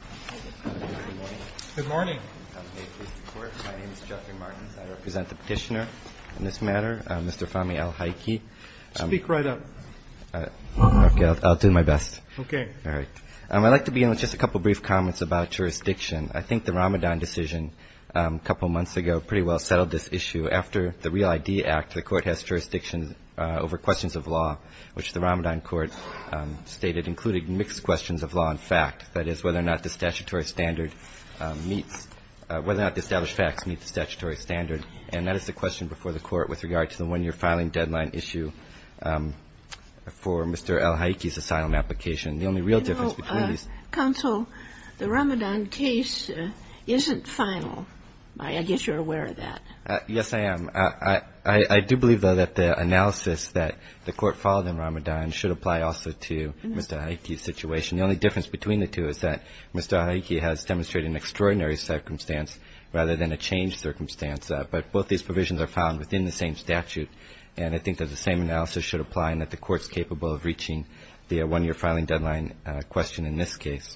Good morning. Good morning. My name is Jeffrey Martins. I represent the petitioner on this matter, Mr. Fahmy Al Haiki. Speak right up. Okay, I'll do my best. Okay. All right. I'd like to begin with just a couple of brief comments about jurisdiction. I think the Ramadan decision a couple of months ago pretty well settled this issue. After the Real ID Act, the Court has jurisdiction over questions of law, which the Ramadan Court stated included mixed questions of law and fact, that is whether or not the statutory standard meets, whether or not the established facts meet the statutory standard. And that is the question before the Court with regard to the one-year filing deadline issue for Mr. Al Haiki's asylum application. The only real difference between these – You know, Counsel, the Ramadan case isn't final. I guess you're aware of that. Yes, I am. I do believe, though, that the analysis that the Court followed in Ramadan should apply also to Mr. Haiki's situation. The only difference between the two is that Mr. Haiki has demonstrated an extraordinary circumstance rather than a changed circumstance. But both these provisions are found within the same statute, and I think that the same analysis should apply and that the Court's capable of reaching the one-year filing deadline question in this case.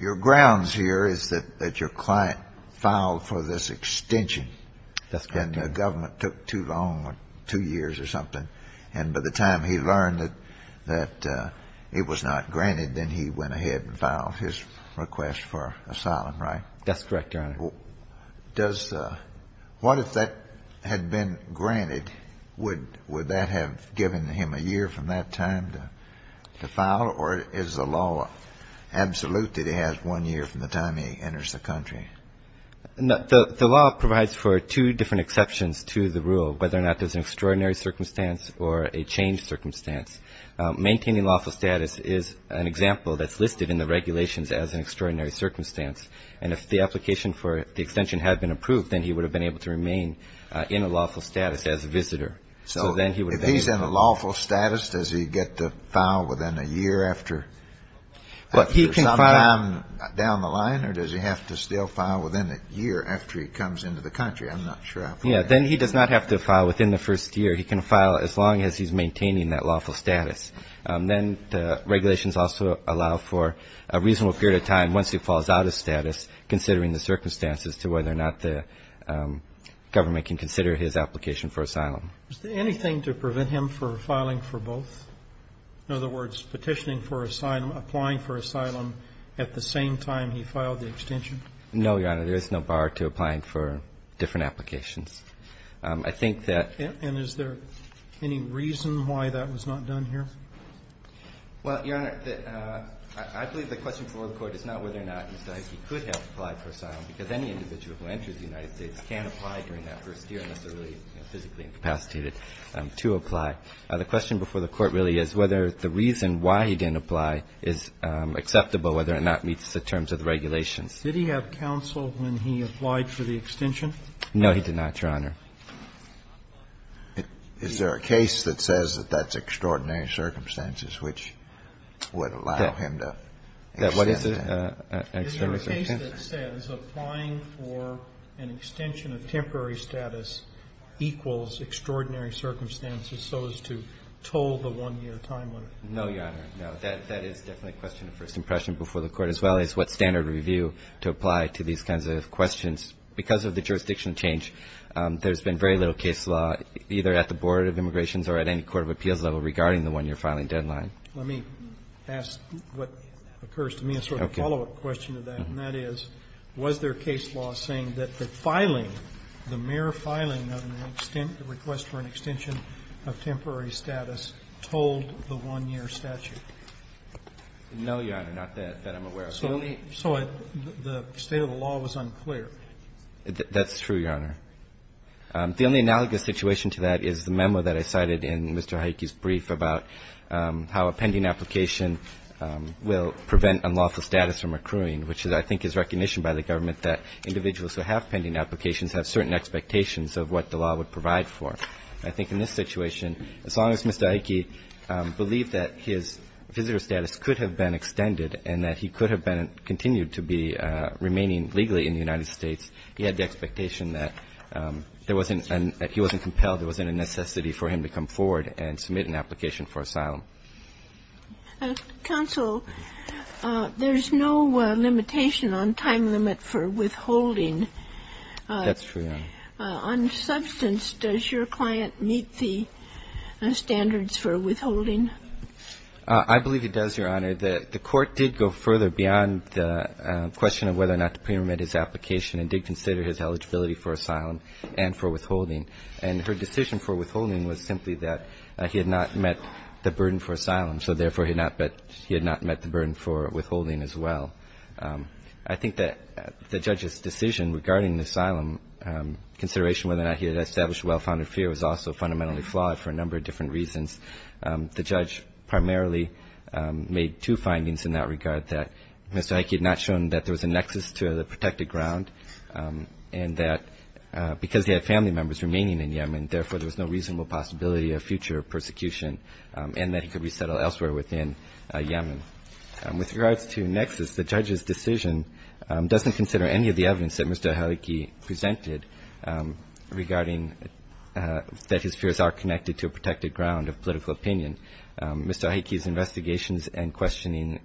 Your grounds here is that your client filed for this extension. That's correct. And the government took too long, two years or something, and by the time he learned that it was not granted, then he went ahead and filed his request for asylum, right? That's correct, Your Honor. What if that had been granted? Would that have given him a year from that time to file? Or is the law absolute that he has one year from the time he enters the country? The law provides for two different exceptions to the rule, whether or not there's an extraordinary circumstance or a changed circumstance. Maintaining lawful status is an example that's listed in the regulations as an extraordinary circumstance. And if the application for the extension had been approved, then he would have been able to remain in a lawful status as a visitor. So if he's in a lawful status, does he get to file within a year after? Is there some time down the line, or does he have to still file within a year after he comes into the country? I'm not sure. Yeah, then he does not have to file within the first year. He can file as long as he's maintaining that lawful status. Then the regulations also allow for a reasonable period of time once he falls out of status, considering the circumstances to whether or not the government can consider his application for asylum. Is there anything to prevent him from filing for both? In other words, petitioning for asylum, applying for asylum at the same time he filed the extension? No, Your Honor. There is no bar to applying for different applications. I think that ---- And is there any reason why that was not done here? Well, Your Honor, I believe the question before the Court is not whether or not Mr. Icke could have applied for asylum, because any individual who enters the United States can't apply during that first year unless they're really physically incapacitated to apply. The question before the Court really is whether the reason why he didn't apply is acceptable, whether or not it meets the terms of the regulations. Did he have counsel when he applied for the extension? No, he did not, Your Honor. Is there a case that says that that's extraordinary circumstances which would allow him to extend? What is it? Is there a case that says applying for an extension of temporary status equals extraordinary circumstances so as to toll the one-year time limit? No, Your Honor. No. That is definitely a question of first impression before the Court, as well as what standard review to apply to these kinds of questions. Because of the jurisdiction change, there's been very little case law either at the Board of Immigrations or at any court of appeals level regarding the one-year filing deadline. Let me ask what occurs to me as sort of a follow-up question to that, and that is, was there case law saying that the filing, the mere filing of an extent request for an extension of temporary status told the one-year statute? No, Your Honor. Not that I'm aware of. So the state of the law was unclear. That's true, Your Honor. The only analogous situation to that is the memo that I cited in Mr. Hayek's brief about how a pending application will prevent unlawful status from accruing, which I think is recognition by the government that individuals who have pending applications have certain expectations of what the law would provide for. I think in this situation, as long as Mr. Hayek believed that his visitor status could have been extended and that he could have been continued to be remaining legally in the United States, he had the expectation that there wasn't an – that he wasn't compelled, there wasn't a necessity for him to come forward and submit an application for asylum. Counsel, there's no limitation on time limit for withholding. That's true, Your Honor. On substance, does your client meet the standards for withholding? I believe he does, Your Honor. The court did go further beyond the question of whether or not to pre-remit his application and did consider his eligibility for asylum and for withholding. And her decision for withholding was simply that he had not met the burden for asylum, so therefore he had not met the burden for withholding as well. I think that the judge's decision regarding the asylum, consideration whether or not he had established well-founded fear was also fundamentally flawed for a number of different reasons. The judge primarily made two findings in that regard, that Mr. Hayek had not shown that there was a nexus to the protected ground and that because he had family members remaining in Yemen, therefore there was no reasonable possibility of future persecution and that he could resettle elsewhere within Yemen. With regards to nexus, the judge's decision doesn't consider any of the evidence that Mr. Hayek presented regarding that his fears are connected to a protected ground of political opinion. Mr. Hayek's investigations and questioning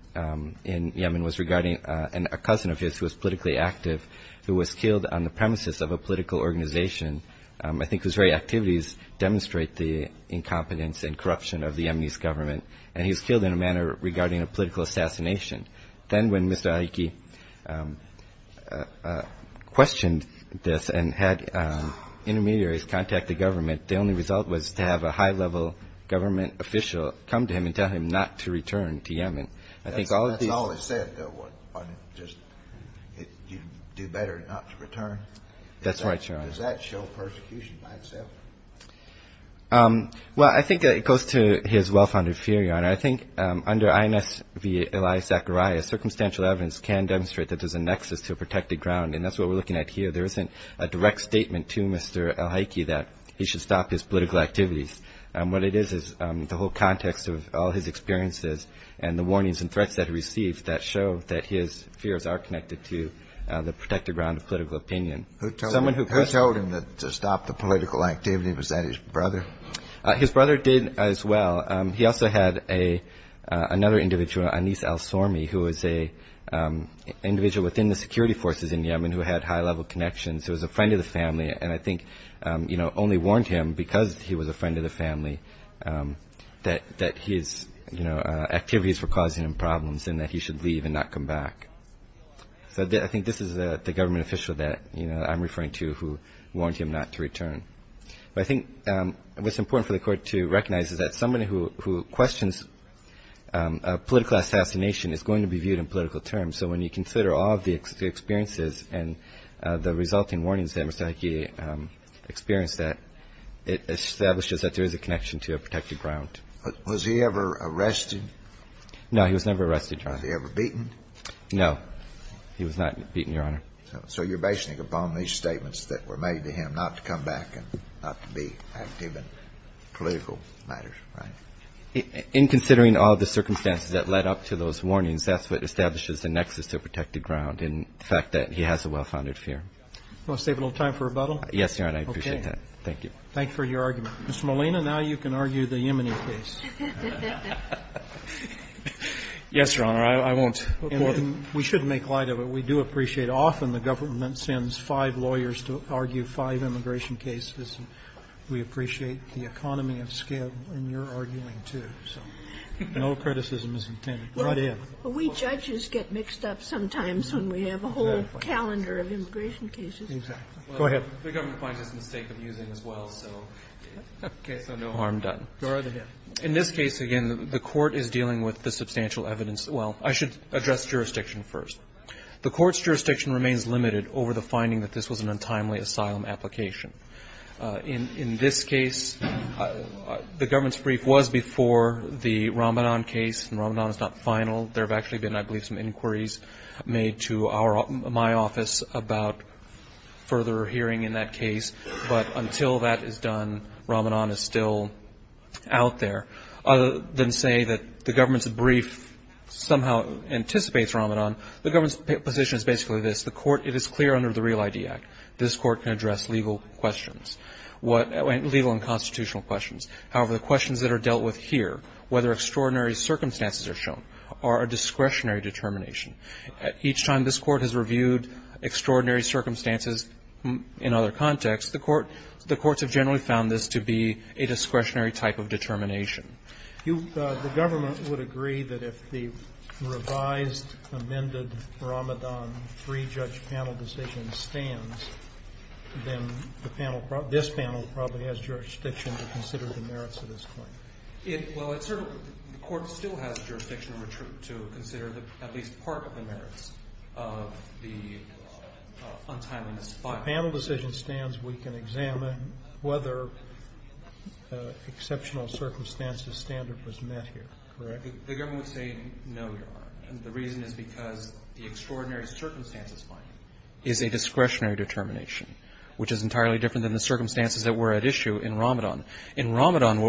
in Yemen was regarding a cousin of his who was politically active who was killed on the premises of a political organization. I think his very activities demonstrate the incompetence and corruption of the Yemeni's government, and he was killed in a manner regarding a political assassination. Then when Mr. Hayek questioned this and had intermediaries contact the government, the only result was to have a high-level government official come to him and tell him not to return to Yemen. That's all he said, though, was just do better not to return? That's right, Your Honor. Does that show persecution by itself? Well, I think it goes to his well-founded fear, Your Honor. I think under INS Eli Zechariah, circumstantial evidence can demonstrate that there's a nexus to a protected ground, and that's what we're looking at here. There isn't a direct statement to Mr. al-Hayek that he should stop his political activities. What it is is the whole context of all his experiences and the warnings and threats that he received that show that his fears are connected to the protected ground of political opinion. Who told him to stop the political activity? Was that his brother? His brother did as well. He also had another individual, Anis al-Sormi, who was an individual within the security forces in Yemen who had high-level connections, who was a friend of the family, and I think only warned him because he was a friend of the family that his activities were causing him problems and that he should leave and not come back. So I think this is the government official that I'm referring to who warned him not to return. But I think what's important for the Court to recognize is that somebody who questions a political assassination is going to be viewed in political terms. So when you consider all of the experiences and the resulting warnings that Mr. Hayek experienced, that it establishes that there is a connection to a protected ground. Was he ever arrested? He was never arrested, Your Honor. Was he ever beaten? No. He was not beaten, Your Honor. So you're basing it upon these statements that were made to him not to come back and not to be active in political matters, right? In considering all the circumstances that led up to those warnings, that's what establishes the nexus to a protected ground in the fact that he has a well-founded fear. Want to save a little time for rebuttal? Yes, Your Honor, I appreciate that. Okay. Thank you. Thanks for your argument. Mr. Molina, now you can argue the Yemeni case. Yes, Your Honor, I won't. We should make light of it. We do appreciate often the government sends five lawyers to argue five immigration cases. And we appreciate the economy of scale in your arguing, too. So no criticism is intended. Go ahead. We judges get mixed up sometimes when we have a whole calendar of immigration cases. Exactly. Go ahead. The government finds it's a mistake of using as well. So no harm done. Go right ahead. In this case, again, the Court is dealing with the substantial evidence. Well, I should address jurisdiction first. The Court's jurisdiction remains limited over the finding that this was an untimely asylum application. In this case, the government's brief was before the Ramanan case, and Ramanan is not final. There have actually been, I believe, some inquiries made to my office about further hearing in that case. But until that is done, Ramanan is still out there. Other than say that the government's brief somehow anticipates Ramanan, the government's position is basically this. It is clear under the Real ID Act. This Court can address legal questions, legal and constitutional questions. However, the questions that are dealt with here, whether extraordinary circumstances are shown, are a discretionary determination. Each time this Court has reviewed extraordinary circumstances in other contexts, the courts have generally found this to be a discretionary type of determination. The government would agree that if the revised, amended Ramanan three-judge panel decision stands, then this panel probably has jurisdiction to consider the merits of this claim. Well, the Court still has jurisdiction to consider at least part of the merits of the untimely asylum application. If the panel decision stands, we can examine whether exceptional circumstances standard was met here, correct? The government would say no, Your Honor. The reason is because the extraordinary circumstances finding is a discretionary determination, which is entirely different than the circumstances that were at issue in Ramanan. In Ramanan,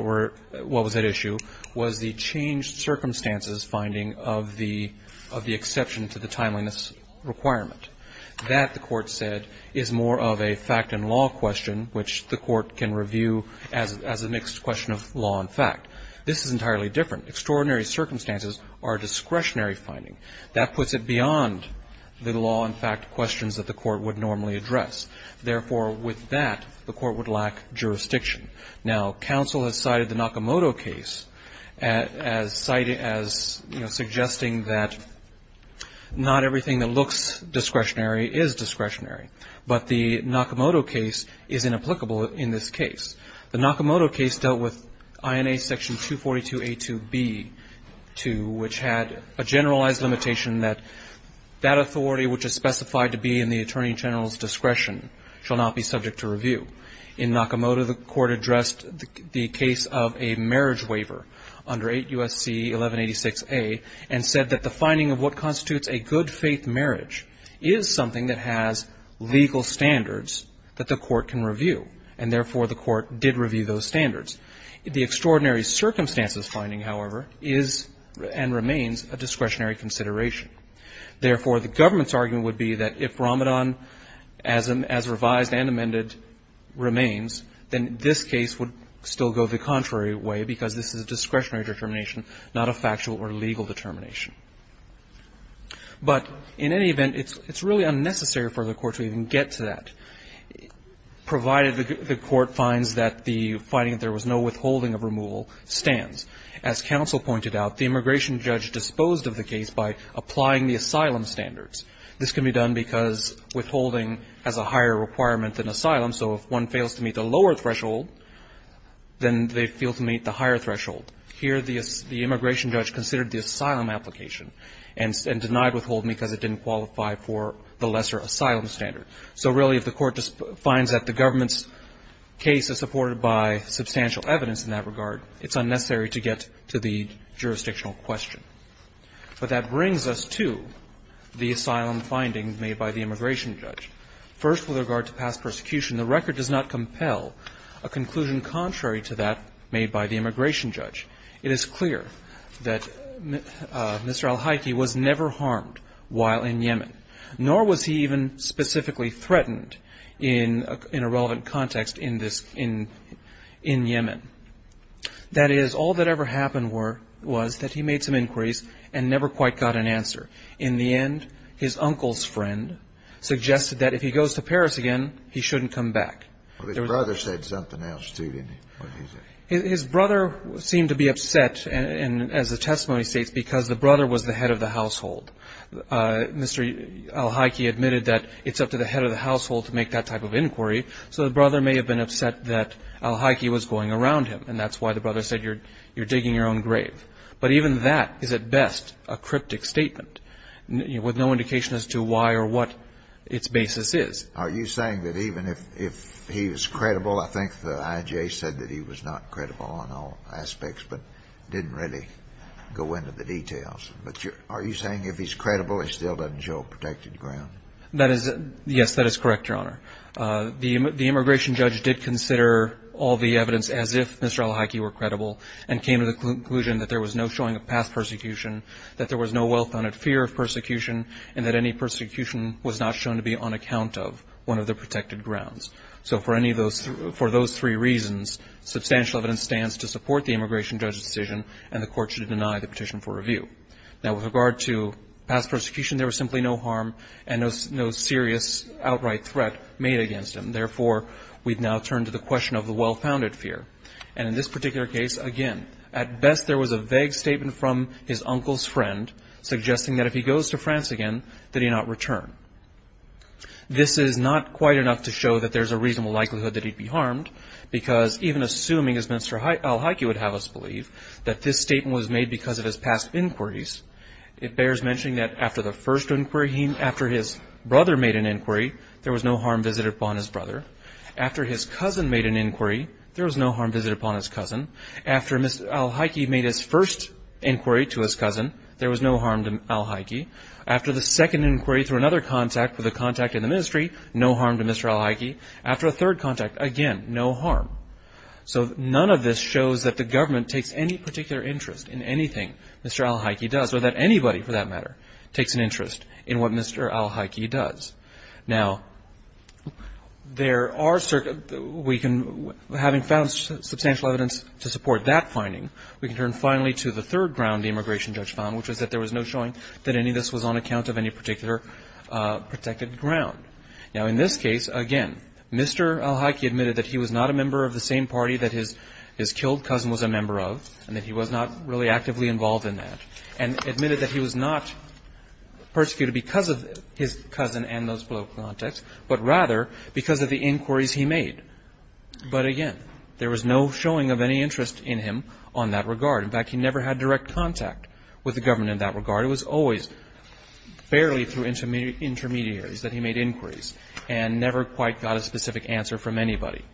what was at issue was the changed circumstances finding of the exception to the timeliness requirement. That, the Court said, is more of a fact and law question, which the Court can review as a mixed question of law and fact. This is entirely different. Extraordinary circumstances are a discretionary finding. That puts it beyond the law and fact questions that the Court would normally address. Therefore, with that, the Court would lack jurisdiction. Now, counsel has cited the Nakamoto case as citing as, you know, suggesting that not everything that looks discretionary is discretionary. But the Nakamoto case is inapplicable in this case. The Nakamoto case dealt with INA section 242A2B2, which had a generalized limitation that that authority which is specified to be in the Attorney General's discretion shall not be subject to review. In Nakamoto, the Court addressed the case of a marriage waiver under 8 U.S.C. 1186A and said that the finding of what constitutes a good-faith marriage is something that has legal standards that the Court can review. And therefore, the Court did review those standards. The extraordinary circumstances finding, however, is and remains a discretionary consideration. Therefore, the government's argument would be that if Ramadan as revised and amended remains, then this case would still go the contrary way because this is a discretionary determination, not a factual or legal determination. But in any event, it's really unnecessary for the Court to even get to that, provided the Court finds that the finding that there was no withholding of removal stands. As counsel pointed out, the immigration judge disposed of the case by applying the asylum standards. This can be done because withholding has a higher requirement than asylum. So if one fails to meet the lower threshold, then they fail to meet the higher threshold. Here, the immigration judge considered the asylum application and denied withholding because it didn't qualify for the lesser asylum standard. So really, if the Court finds that the government's case is supported by substantial evidence in that regard, it's unnecessary to get to the jurisdictional question. But that brings us to the asylum findings made by the immigration judge. First, with regard to past persecution, the record does not compel a conclusion contrary to that made by the immigration judge. It is clear that Mr. al-Haiki was never harmed while in Yemen, nor was he even specifically threatened in a relevant context in this, in Yemen. That is, all that ever happened were, was that he made some inquiries and never quite got an answer. In the end, his uncle's friend suggested that if he goes to Paris again, he shouldn't come back. Well, his brother said something else, too, didn't he? What did he say? His brother seemed to be upset, and as the testimony states, because the brother was the head of the household. Mr. al-Haiki admitted that it's up to the head of the household to make that type of inquiry. So the brother may have been upset that al-Haiki was going around him, and that's why the brother said, you're digging your own grave. But even that is at best a cryptic statement with no indication as to why or what its basis is. Are you saying that even if, if he was credible, I think the IJA said that he was not credible on all aspects, but didn't really go into the details. But are you saying if he's credible, it still doesn't show a protected ground? That is, yes, that is correct, Your Honor. The immigration judge did consider all the evidence as if Mr. al-Haiki were credible and came to the conclusion that there was no showing of past persecution, that there was no well-founded fear of persecution, and that any persecution was not shown to be on account of one of the protected grounds. So for any of those, for those three reasons, substantial evidence stands to support the immigration judge's decision, and the Court should deny the petition for review. Now, with regard to past persecution, there was simply no harm and no serious outright threat made against him. Therefore, we'd now turn to the question of the well-founded fear. And in this particular case, again, at best there was a vague statement from his uncle's friend, suggesting that if he goes to France again, that he not return. This is not quite enough to show that there's a reasonable likelihood that he'd be harmed, because even assuming as Mr. al-Haiki would have us believe, that this statement was made because of his past inquiries, it bears mentioning that after the first inquiry, after his brother made an inquiry, there was no harm visited upon his brother. After his cousin made an inquiry, there was no harm visited upon his cousin. After Mr. al-Haiki made his first inquiry to his cousin, there was no harm to al-Haiki. After the second inquiry through another contact, with a contact in the ministry, no harm to Mr. al-Haiki. After a third contact, again, no harm. So none of this shows that the government takes any particular interest in anything Mr. al-Haiki does, or that anybody, for that matter, takes an interest in what Mr. al-Haiki does. Now, there are certain, we can, having found substantial evidence to support that finding, we can turn finally to the third ground the immigration judge found, which was that there was no showing that any of this was on account of any particular protected ground. Now, in this case, again, Mr. al-Haiki admitted that he was not a member of the same party that his killed cousin was a member of, and that he was not really actively involved in that, and admitted that he was not persecuted because of his cousin and those below context, but rather because of the inquiries he made. But again, there was no showing of any interest in him on that regard. In fact, he never had direct contact with the government in that regard. It was always barely through intermediaries that he made inquiries, and never quite got a specific answer from anybody.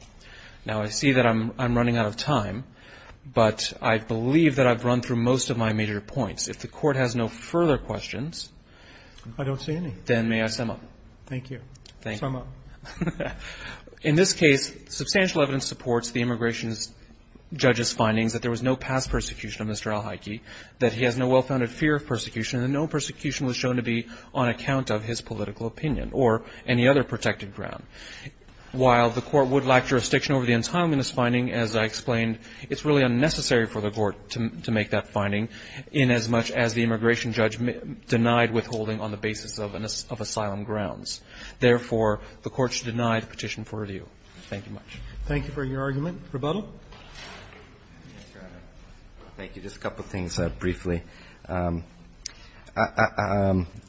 Now, I see that I'm running out of time, but I believe that I've run through most of my major points. If the Court has no further questions. I don't see any. Then may I sum up? Thank you. Sum up. In this case, substantial evidence supports the immigration judge's findings that there was no past persecution of Mr. al-Haiki, that he has no well-founded fear of persecution, and no persecution was shown to be on account of his political opinion or any other protected ground. While the Court would lack jurisdiction over the entitlement in this finding, as I explained, it's really unnecessary for the Court to make that finding inasmuch as the immigration judge denied withholding on the basis of asylum grounds. Therefore, the Court should deny the petition for review. Thank you much. Thank you for your argument. Rebuttal. Thank you. Just a couple of things briefly. I'm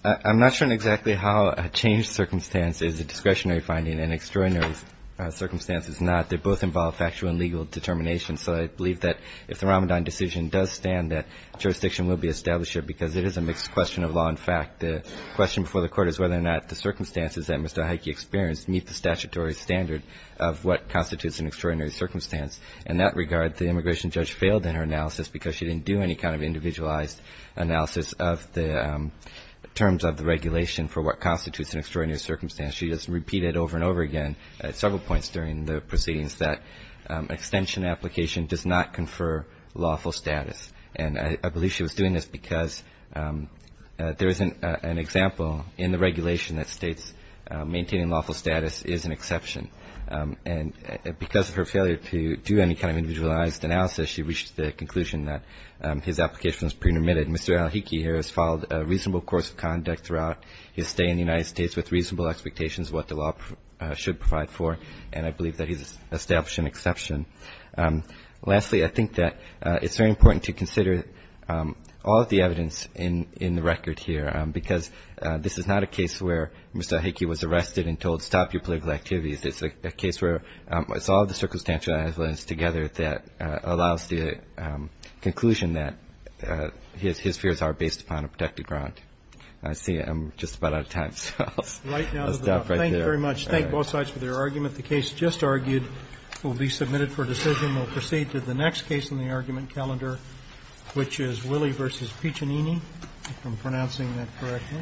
not sure exactly how a changed circumstance is a discretionary finding. An extraordinary circumstance is not. They both involve factual and legal determination. So I believe that if the Ramadan decision does stand that jurisdiction will be established because it is a mixed question of law and fact. The question before the Court is whether or not the circumstances that Mr. al-Haiki experienced meet the statutory standard of what constitutes an extraordinary circumstance. In that regard, the immigration judge failed in her analysis because she didn't do any kind of individualized analysis of the terms of the regulation for what constitutes an extraordinary circumstance. She just repeated over and over again at several points during the proceedings that extension application does not confer lawful status. And I believe she was doing this because there is an example in the regulation that states maintaining lawful status is an exception. And because of her failure to do any kind of individualized analysis, she reached the conclusion that his application was pretermitted. Mr. al-Haiki here has followed a reasonable course of conduct throughout his stay in the United States with reasonable expectations of what the law should provide for, and I believe that he's established an exception. Lastly, I think that it's very important to consider all of the evidence in the record here, because this is not a case where Mr. al-Haiki was arrested and told, stop your political activities. It's a case where it's all the circumstantial evidence together that allows the conclusion that his fears are based upon a protected ground. I see I'm just about out of time, so I'll stop right there. Thank you very much. I just thank both sides for their argument. The case just argued will be submitted for decision. We'll proceed to the next case in the argument calendar, which is Willey v. Piccinini. If I'm pronouncing that correctly. Thank you.